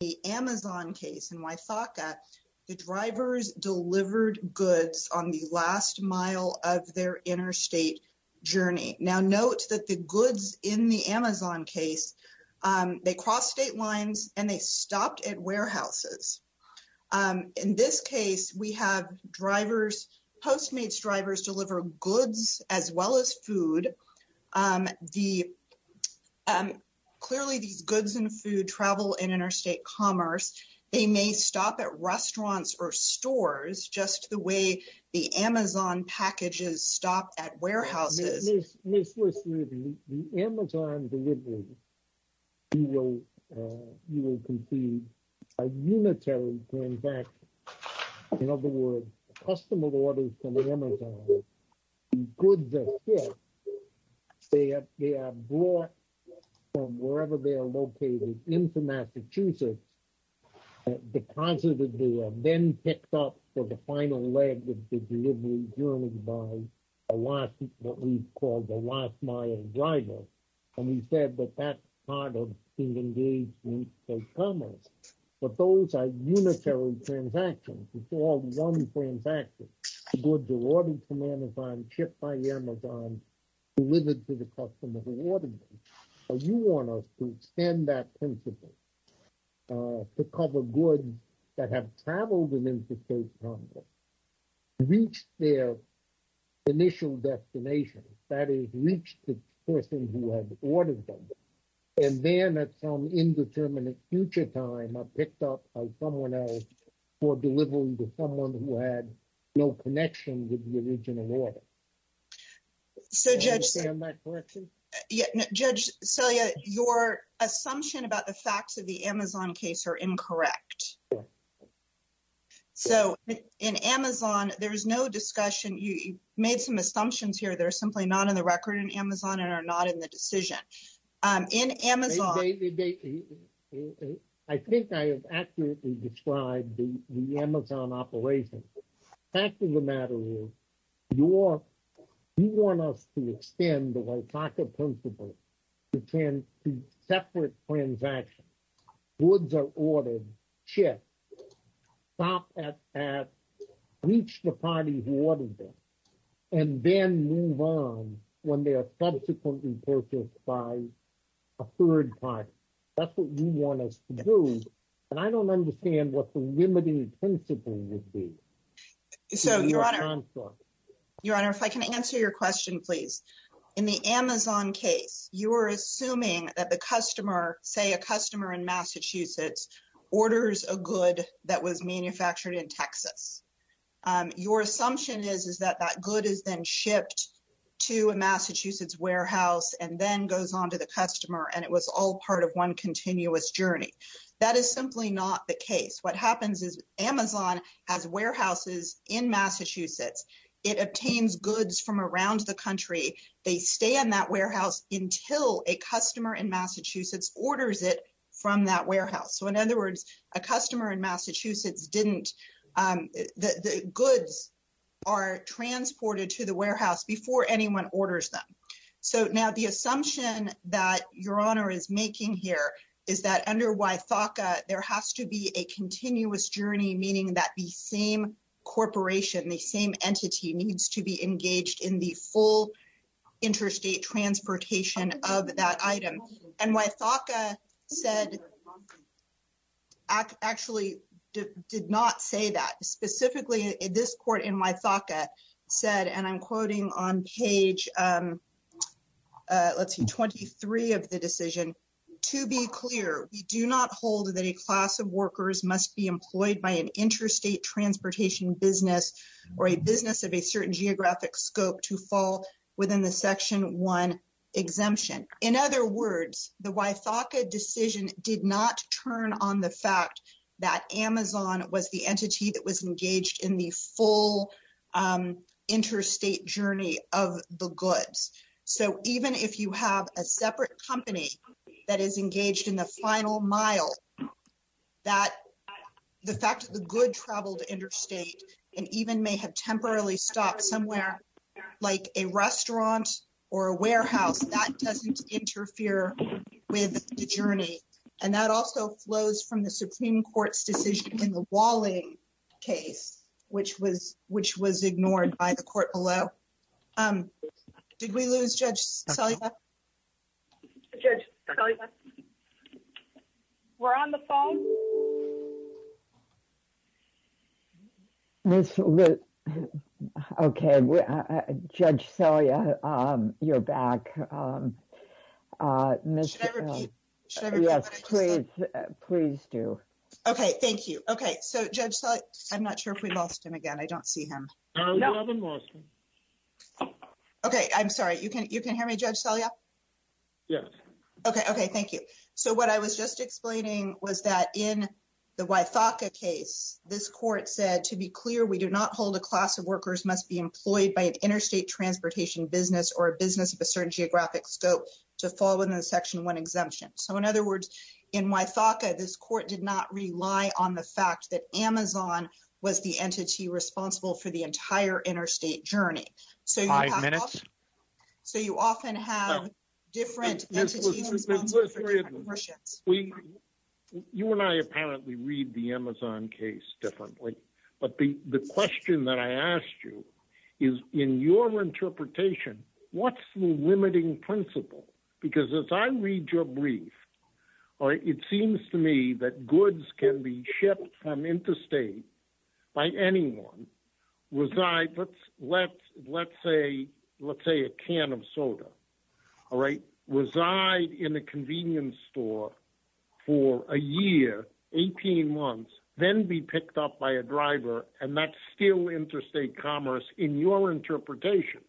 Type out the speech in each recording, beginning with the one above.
The Amazon case, and why thought that the drivers delivered goods on the last mile of their interstate journey. Now, note that the goods in the Amazon case, they cross state lines and they stopped at warehouses in this case, we have drivers, postmates, drivers deliver goods as well as food. Um, the clearly these goods and food travel in interstate commerce, they may stop at restaurants or stores just the way the Amazon packages stop at warehouses. Listen, the Amazon. You will, you will complete a unitary going back. In other words, customer orders from the Amazon. Good, they have brought. From wherever they are located into Massachusetts. Deposited, then picked up for the final leg of the journey by. A lot of what we call the last mile driver. And we said that that's part of being engaged in commerce, but those are unitary transactions. It's all 1 transaction good to order from Amazon shipped by Amazon. Delivered to the customer. You want us to extend that principle. To cover good that have traveled within the. Reach their initial destination that is reached the person who had ordered them. And then at some indeterminate future time, I picked up someone else for delivering to someone who had no connection with the original order. So, judge, judge, so your assumption about the facts of the Amazon case are incorrect. So, in Amazon, there is no discussion. You made some assumptions here. They're simply not in the record in Amazon and are not in the decision in Amazon. I think I have accurately described the Amazon operation. Fact of the matter is you want us to extend the principle. You can separate transaction. Woods are ordered ship at. Reach the party and then move on when they are subsequently purchased by. A 3rd time, that's what you want us to do. And I don't understand what the limiting principle would be. So, your honor, your honor, if I can answer your question, please, in the Amazon case, you are assuming that the customer say, a customer in Massachusetts orders a good that was manufactured in Texas. Your assumption is, is that that good is then shipped to a Massachusetts warehouse and then goes on to the customer and it was all part of 1 continuous journey. That is simply not the case. What happens is Amazon has warehouses in Massachusetts. It obtains goods from around the country. They stay in that warehouse until a customer in Massachusetts orders it from that warehouse. So, in other words, a customer in Massachusetts, didn't the goods. Are transported to the warehouse before anyone orders them. So now the assumption that your honor is making here is that under why there has to be a continuous journey, meaning that the same corporation, the same entity needs to be engaged in the full. Interstate transportation of that item and why FACA said. Actually, did not say that specifically this court in my thought said, and I'm quoting on page. Let's see, 23 of the decision to be clear. We do not hold that a class of workers must be employed by an interstate transportation business or a business of a certain geographic scope to fall within the section. Exemption in other words, the why FACA decision did not turn on the fact that Amazon was the entity that was engaged in the full interstate journey of the goods. So, even if you have a separate company that is engaged in the final mile. That the fact that the good travel to interstate, and even may have temporarily stopped somewhere like a restaurant or a warehouse that doesn't interfere with the journey. And that also flows from the Supreme Court's decision in the walling case, which was, which was ignored by the court below. Um, did we lose judge? We're on the phone. Okay, we're judge. So, yeah, you're back. Uh, please do. Okay, thank you. Okay. So, judge, I'm not sure if we lost him again. I don't see him. No, I haven't lost him. Okay, I'm sorry you can you can hear me judge. Yeah, okay. Okay. Thank you. So what I was just explaining was that in. The why FACA case, this court said, to be clear, we do not hold a class of workers must be employed by an interstate transportation business, or a business of a certain geographic scope to fall within the section 1 exemption. So, in other words, in my FACA, this court did not rely on the fact that Amazon was the entity responsible for the entire interstate journey. So, so you often have different. You and I apparently read the Amazon case differently, but the question that I asked you is, in your interpretation, what's the limiting principle? Because as I read your brief, or it seems to me that goods can be shipped from interstate by anyone was I, let's, let's say, let's say a can of soda. All right, reside in a convenience store for a year, 18 months, then be picked up by a driver and that's still interstate commerce in your interpretation.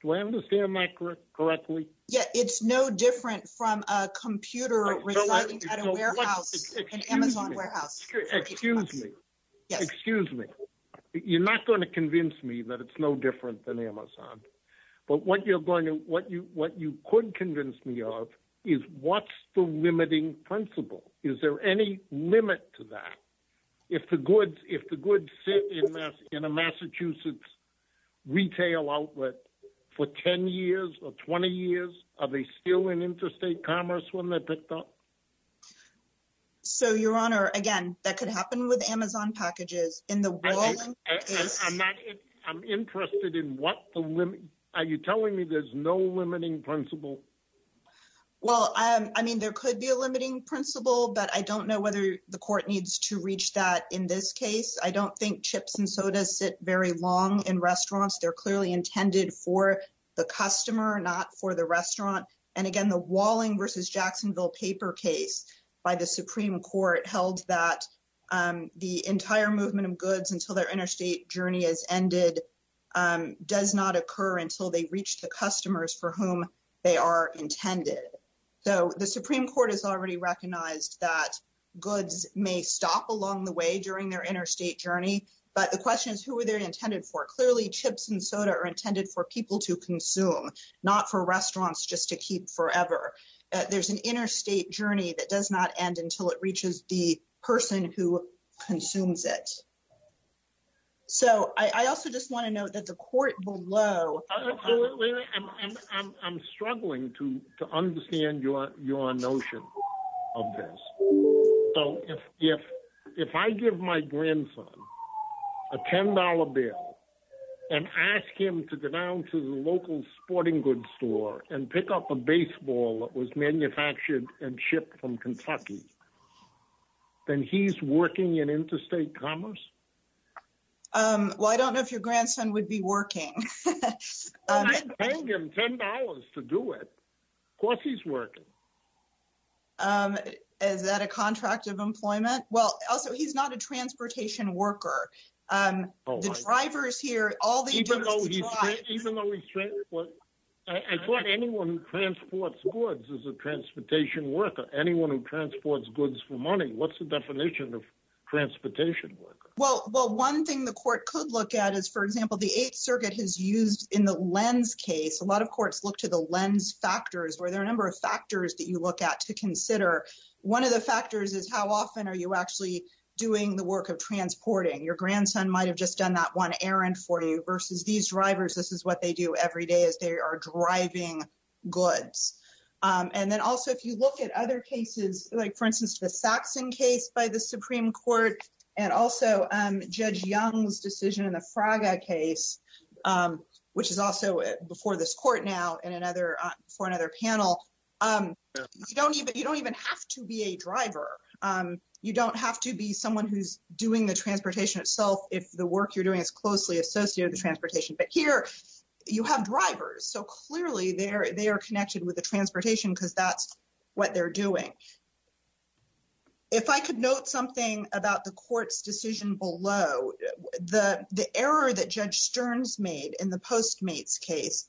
Do I understand my correct correctly? Yeah, it's no different from a computer. And Amazon warehouse, excuse me, excuse me. You're not going to convince me that it's no different than Amazon, but what you're going to what you, what you couldn't convince me of is what's the limiting principle. Is there any limit to that? If the goods, if the goods in a Massachusetts. Retail outlet for 10 years or 20 years, are they still in interstate commerce when they picked up? So, your honor again, that could happen with Amazon packages in the I'm not I'm interested in what are you telling me? There's no limiting principle. Well, I mean, there could be a limiting principle, but I don't know whether the court needs to reach that in this case. I don't think chips and sodas sit very long in restaurants. They're clearly intended for the customer, not for the restaurant. And again, the walling versus Jacksonville paper case by the Supreme Court held that the entire movement of goods until their interstate journey is ended. Um, does not occur until they reach the customers for whom they are intended. So, the Supreme Court has already recognized that goods may stop along the way during their interstate journey. But the question is, who are they intended for? Clearly chips and soda are intended for people to consume not for restaurants just to keep forever. There's an interstate journey that does not end until it reaches the person who consumes it. So, I also just want to note that the court below. Absolutely. I'm struggling to understand your notion of this. So, if I give my grandson a $10 bill and ask him to go down to the local sporting goods store and pick up a baseball that was manufactured and shipped from Kentucky. Then he's working in interstate commerce. Well, I don't know if your grandson would be working $10 to do it. Of course, he's working. Um, is that a contract of employment? Well, also, he's not a transportation worker. Um, the drivers here, all the, even though he's, even though he's. I thought anyone who transports goods is a transportation worker. Anyone who transports goods for money. What's the definition of transportation? Well, well, 1 thing the court could look at is, for example, the 8th Circuit has used in the lens case. A lot of courts look to the lens factors where there are a number of factors that you look at to consider. 1 of the factors is how often are you actually doing the work of transporting your grandson might have just done that 1 errand for you versus these drivers. This is what they do every day as they are driving goods. And then also, if you look at other cases, like, for instance, the Saxon case by the Supreme Court, and also judge young's decision in the Fraga case, which is also before this court now, and another for another panel. You don't even, you don't even have to be a driver. You don't have to be someone who's doing the transportation itself. If the work you're doing is closely associated with transportation, but here you have drivers. So, clearly, they're, they are connected with the transportation because that's what they're doing. If I could note something about the court's decision below the, the error that judge stern's made in the postmates case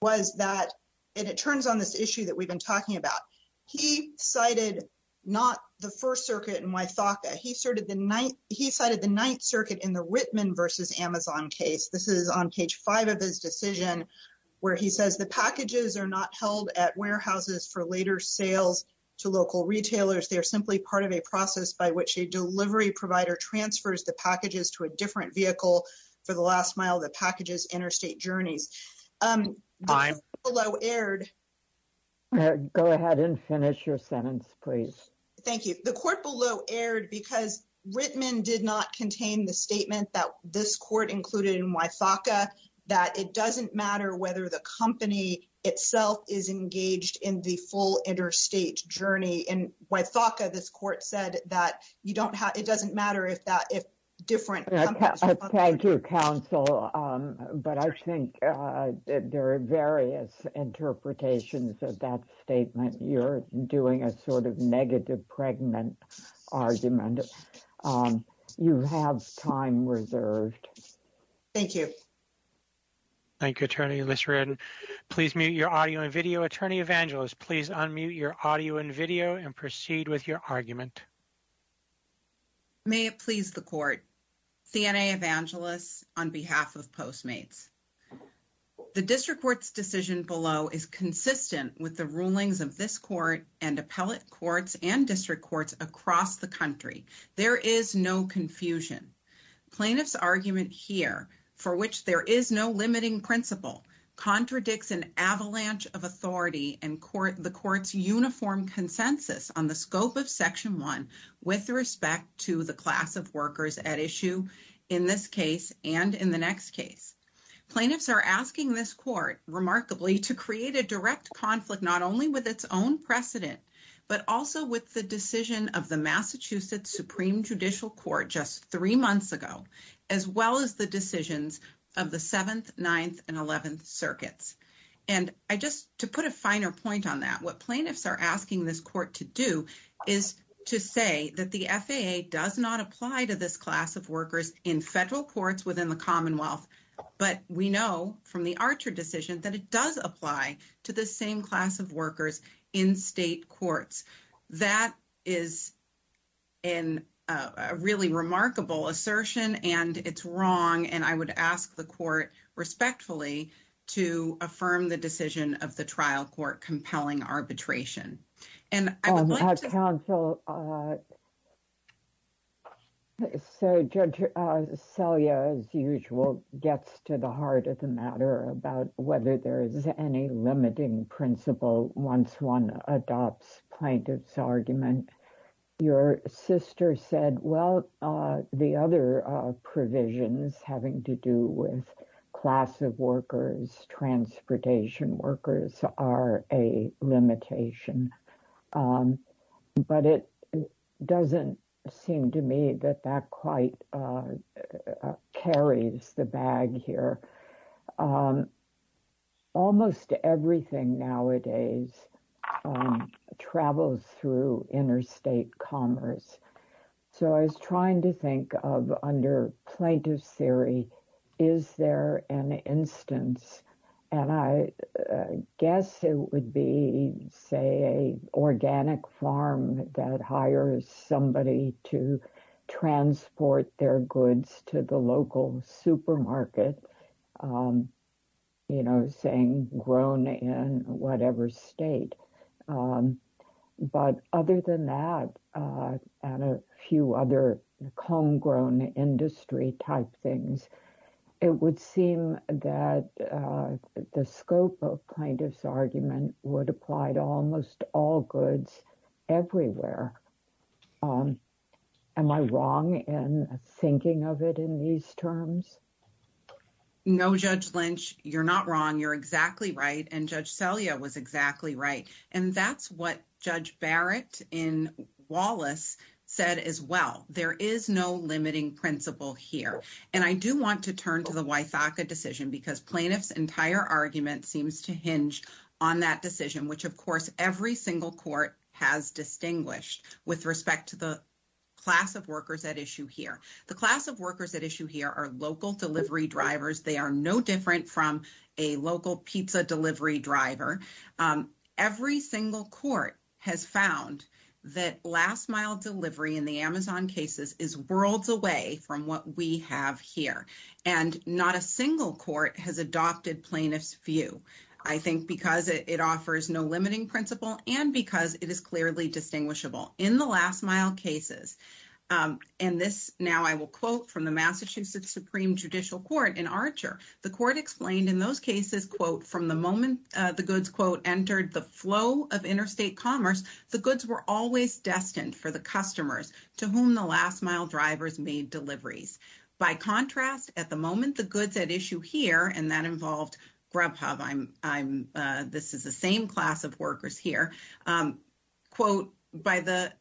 was that and it turns on this issue that we've been talking about, he cited not the 1st circuit. And why thought that he started the night? He cited the 9th circuit in the Whitman versus Amazon case. This is on page 5 of his decision where he says the packages are not held at warehouses for later sales to lower prices. They are simply part of a process by which a delivery provider transfers the packages to a different vehicle for the last mile. The packages interstate journeys below aired go ahead and finish your sentence. Please, thank you. The court below aired because Whitman did not contain the statement that this court included in my FACA that it doesn't matter whether the company itself is engaged in the full interstate journey. And why thought this court said that you don't have it doesn't matter if that if different thank you counsel. But I think there are various interpretations of that statement. You're doing a sort of negative pregnant argument. You have time reserved. Thank you. Thank you attorney. Please mute your audio and video attorney evangelist. Please unmute your audio and video and proceed with your argument. May it please the court CNA evangelists on behalf of postmates. The district court's decision below is consistent with the rulings of this court and appellate courts and district courts across the country. There is no confusion. Plaintiffs argument here for which there is no limiting principle contradicts an avalanche of authority and court, the court's uniform consensus on the scope of section 1 with respect to the class of workers at issue in this case. And in the next case, plaintiffs are asking this court remarkably to create a direct conflict, not only with its own precedent, but also with the decision of the Massachusetts Supreme judicial court, just 3 months ago. As well, as the decisions of the 7th, 9th and 11th circuits, and I just to put a finer point on that, what plaintiffs are asking this court to do is to say that the FAA does not apply to this class of workers in federal courts within the Commonwealth, but we know from the Archer decision that it does apply to the same class of workers in state courts. That is. In a really remarkable assertion, and it's wrong, and I would ask the court respectfully to affirm the decision of the trial court, compelling arbitration and counsel. So, uh, So, So, yeah, as usual, gets to the heart of the matter about whether there is any limiting principle. Once one adopts plaintiffs argument, your sister said, well, the other provisions having to do with class of workers, transportation workers are a limitation. But it doesn't seem to me that that quite carries the bag here. Almost everything nowadays travels through interstate commerce. So I was trying to think of under plaintiff's theory. Is there an instance, and I guess it would be, say, a organic farm that hires somebody to transport their goods to the local supermarket. You know, saying grown in whatever state. Um, but other than that, and a few other homegrown industry type things, it would seem that the scope of plaintiff's argument would apply to almost all goods everywhere. Am I wrong in thinking of it in these terms? No, judge Lynch, you're not wrong. You're exactly right. And judge Celia was exactly right. And that's what judge Barrett in Wallace said as well. There is no limiting principle here. And I do want to turn to the decision, because plaintiff's entire argument seems to hinge on that decision, which, of course, every single court has distinguished with respect to the. Class of workers at issue here, the class of workers at issue here are local delivery drivers. They are no different from a local pizza delivery driver. Every single court has found that last mile delivery in the Amazon cases is worlds away from what we have here and not a single court has adopted plaintiff's view. I think, because it offers no limiting principle, and because it is clearly distinguishable in the last mile cases, and this now I will quote from the Massachusetts Supreme judicial court in Archer. The court explained in those cases, quote, from the moment the goods quote, entered the flow of interstate commerce. The goods were always destined for the customers to whom the last mile drivers made deliveries. By contrast, at the moment, the goods at issue here, and that involved grub hub, I'm, I'm, this is the same class of workers here quote by the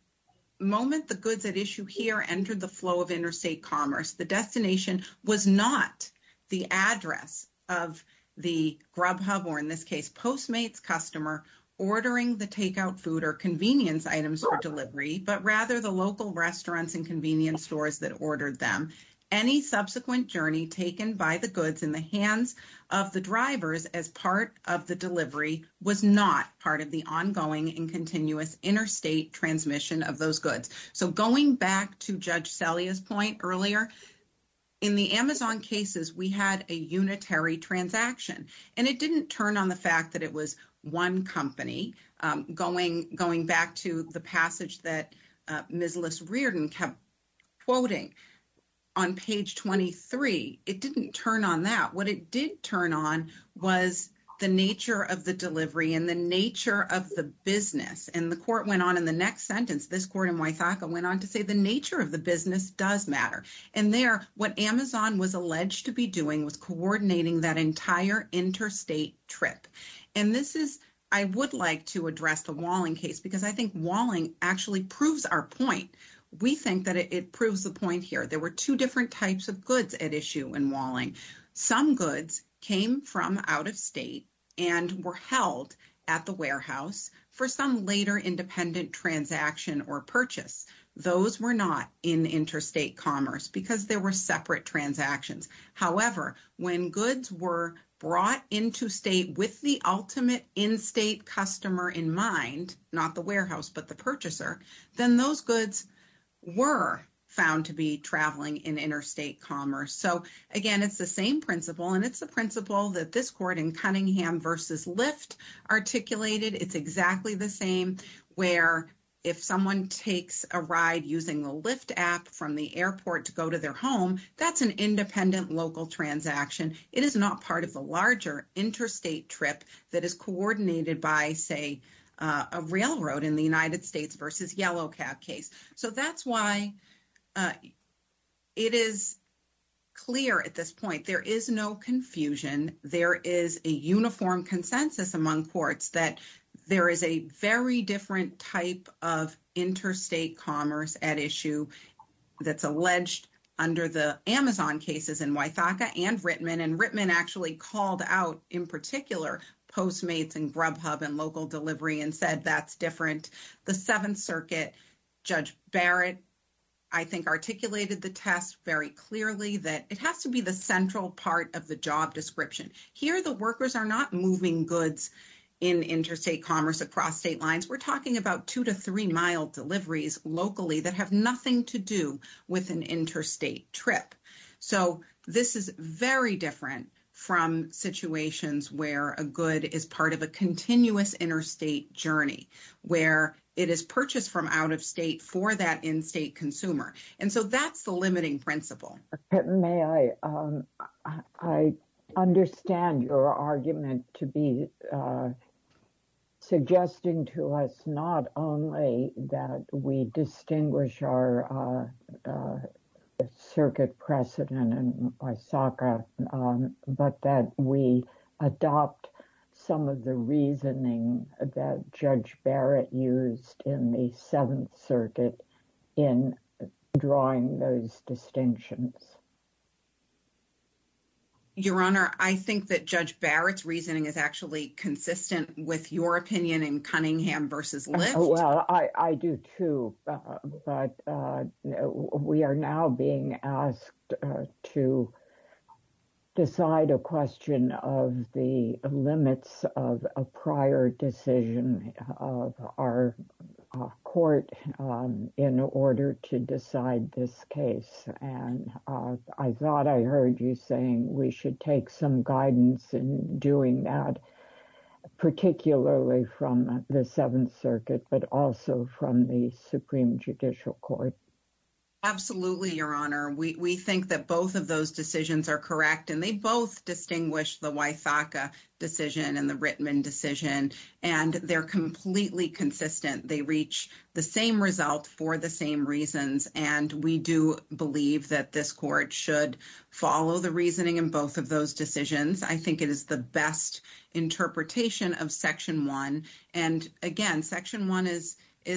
moment. The goods at issue here entered the flow of interstate commerce. The destination was not the address of the grub hub, or in this case, postmates customer ordering the takeout food or convenience items for delivery, but rather the local restaurants and convenience stores that ordered them. Any subsequent journey taken by the goods in the hands of the drivers as part of the delivery was not part of the ongoing and continuous interstate transmission of those goods. So, going back to judge Sally's point earlier. In the Amazon cases, we had a unitary transaction and it didn't turn on the fact that it was 1 company going going back to the passage that. Uh, miss list reared and kept quoting on page 23. it didn't turn on that. What it did turn on was the nature of the delivery and the nature of the business. And the court went on in the next sentence, this court and went on to say, the nature of the business does matter. And there, what Amazon was alleged to be doing was coordinating that entire interstate trip. And this is, I would like to address the walling case, because I think walling actually proves our point. We think that it proves the point here. There were 2 different types of goods at issue and walling. Some goods came from out of state and were held at the warehouse for some later independent transaction or purchase. Those were not in interstate commerce because there were separate transactions. However, when goods were brought into state with the ultimate in state customer in mind, not the warehouse, but the purchaser, then those goods were found to be traveling in interstate commerce. So, again, it's the same principle, and it's the principle that this court in Cunningham versus lift articulated. It's exactly the same where if someone takes a ride using the lift app from the airport to go to their home, that's an independent local transaction. It is not part of the larger interstate trip that is coordinated by, say, a railroad in the United States versus yellow cap case. So, that's why it is clear at this point, there is no confusion. There is a uniform consensus among courts that there is a very different type of interstate commerce at issue that's alleged under the Amazon cases in Wythaka and Rittman, and Rittman actually called out in particular Postmates and Grubhub and local delivery and said, that's different. The 7th Circuit, Judge Barrett, I think, articulated the test very clearly that it has to be the central part of the job description. Here, the workers are not moving goods in interstate commerce across state lines. We're talking about 2 to 3 mile deliveries locally that have nothing to do with an interstate trip. So, this is very different from situations where a good is part of a continuous interstate journey, where it is purchased from out of state for that in-state consumer. And so that's the limiting principle. May I, I understand your argument to be suggesting to us, not only that we distinguish our circuit precedent in Wythaka, but that we adopt some of the reasoning that Judge Barrett used in the 7th Circuit in drawing those distinctions. Your Honor, I think that Judge Barrett's reasoning is actually consistent with your opinion in Cunningham versus Lyft. Well, I do too, but we are now being asked to decide a question of the limits of a prior decision of our court in order to decide this case. And I thought I heard you saying we should take some guidance in doing that, particularly from the 7th Circuit, but also from the Supreme Judicial Court. Absolutely, Your Honor. We think that both of those decisions are correct, and they both distinguish the Wythaka decision and the Rittman decision. And they're completely consistent. They reach the same result for the same reasons. And we do believe that this court should follow the reasoning in both of those decisions. I think it is the best interpretation of Section 1. And again, Section 1 is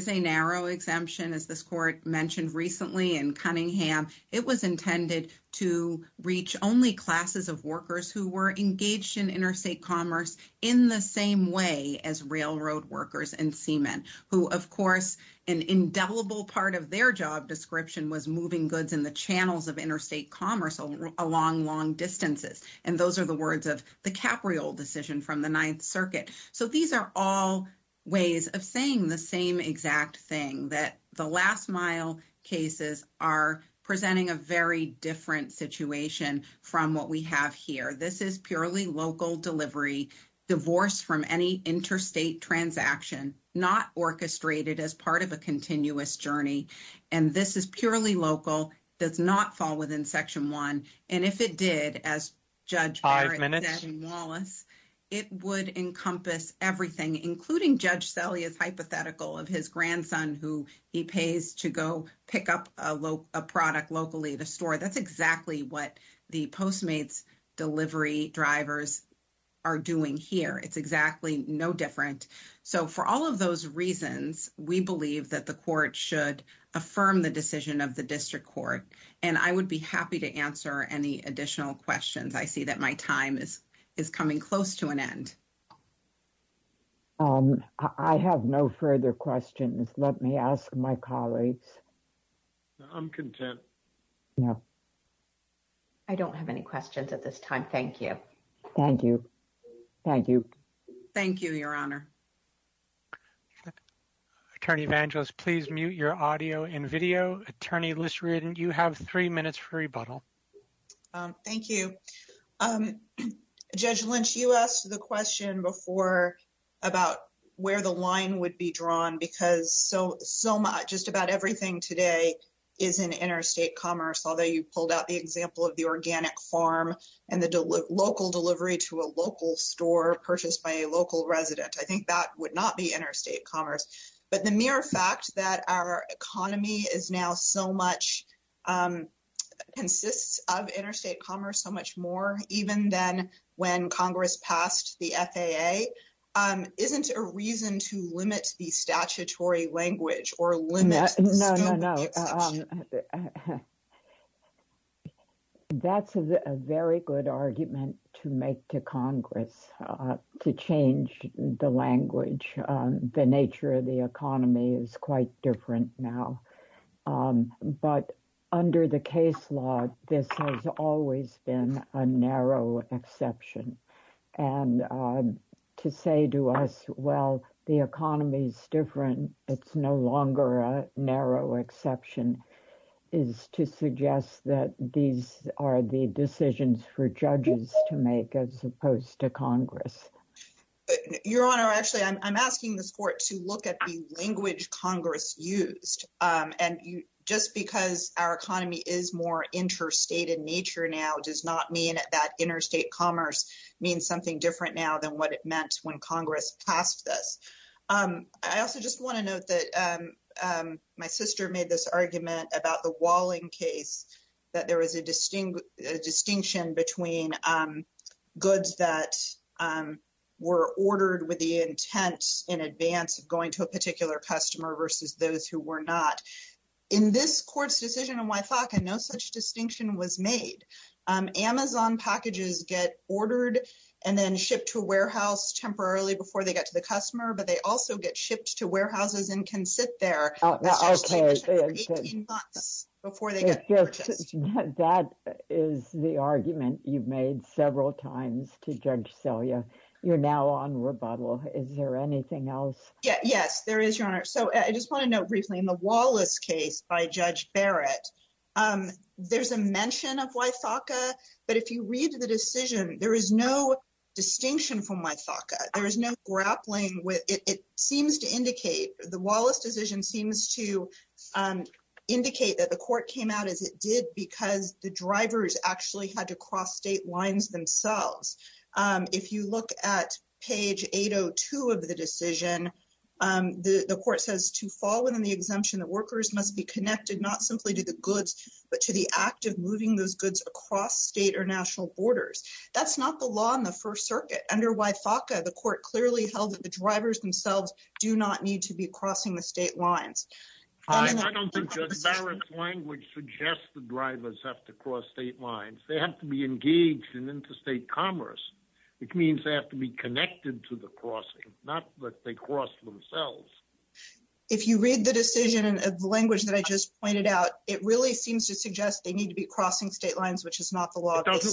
a narrow exemption, as this court mentioned recently in Cunningham. It was intended to reach only classes of workers who were engaged in interstate commerce in the same way as railroad workers and seamen, who, of course, an indelible part of their job description was moving goods in the channels of interstate commerce along long distances. And those are the words of the Capriol decision from the 9th Circuit. So these are all ways of saying the same exact thing that the last mile cases are presenting a very different situation from what we have here. This is purely local delivery divorce from any interstate transaction, not orchestrated as part of a continuous journey. And this is purely local does not fall within Section 1. And if it did, as Judge Warren said in Wallace, it would encompass everything, including Judge Selye's hypothetical of his grandson, who he pays to go pick up a product locally to store. That's exactly what the Postmates delivery drivers are doing here. It's exactly no different. So, for all of those reasons, we believe that the court should affirm the decision of the district court, and I would be happy to answer any additional questions. I see that my time is is coming close to an end. I have no further questions. Let me ask my colleagues. I'm content. Yeah, I don't have any questions at this time. Thank you. Thank you. Thank you. Thank you. Your honor. Attorney evangelist, please mute your audio and video attorney list. Read and you have 3 minutes for rebuttal. Thank you. Judge Lynch, you asked the question before about where the line would be drawn because so so much just about everything today is an interstate commerce. Although you pulled out the example of the organic farm, and the local delivery to a local store purchased by a local resident, I think that would not be interstate commerce. But the mere fact that our economy is now so much consists of interstate commerce so much more, even then when Congress passed the isn't a reason to limit the statutory language or limit. No, no, no. That's a very good argument to make to Congress to change the language, the nature of the economy is quite different now. But under the case law, this has always been a narrow exception and to say to us, well, the economy is different. It's no longer a narrow exception is to suggest that these are the decisions for judges to make as opposed to Congress. Your honor, actually, I'm asking this court to look at the language Congress used and just because our economy is more interstate in nature now does not mean that interstate commerce means something different now than what it meant when Congress passed this. I also just want to note that my sister made this argument about the walling case that there was a distinct distinction between goods that were ordered with the intent in advance of going to a particular customer versus those who were not in this court's decision. And why I know such distinction was made Amazon packages get ordered and then shipped to a warehouse temporarily before they get to the customer. But they also get shipped to warehouses and can sit there. Before they get that is the argument you've made several times to judge. So, yeah, you're now on rebuttal. Is there anything else? Yeah, yes, there is your honor. So I just want to know briefly in the Wallace case by judge Barrett, there's a mention of why? But if you read the decision, there is no distinction from my there is no grappling with. It seems to indicate the Wallace decision seems to indicate that the court came out as it did, because the drivers actually had to cross state lines themselves. If you look at page 802 of the decision, the court says to fall within the exemption that workers must be connected, not simply to the goods, but to the act of moving those goods across state or national borders. That's not the law in the 1st, circuit under why the court clearly held that the drivers themselves do not need to be crossing the state lines. I don't think language suggests the drivers have to cross state lines. They have to be engaged in interstate commerce, which means they have to be connected to the crossing. Not that they cross themselves. If you read the decision of the language that I just pointed out, it really seems to suggest they need to be crossing state lines, which is not the law. It doesn't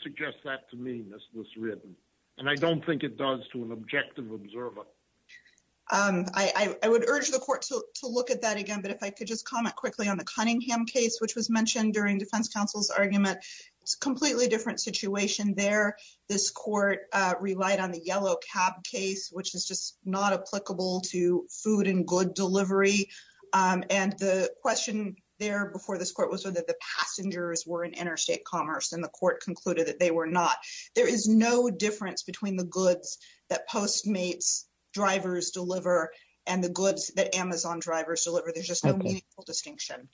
suggest that to me. This was written and I don't think it does to an objective observer. I would urge the court to look at that again, but if I could just comment quickly on the Cunningham case, which was mentioned during defense counsel's argument, it's completely different situation there. This court relied on the yellow cab case, which is just not applicable to food and good delivery. And the question there before this court was whether the passengers were in interstate commerce, and the court concluded that they were not. There is no difference between the goods that Postmates drivers deliver and the goods that Amazon drivers deliver. There's just no distinction.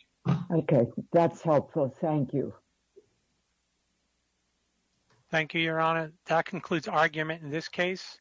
Okay, that's helpful. Thank you. Thank you, Your Honor. That concludes argument in this case.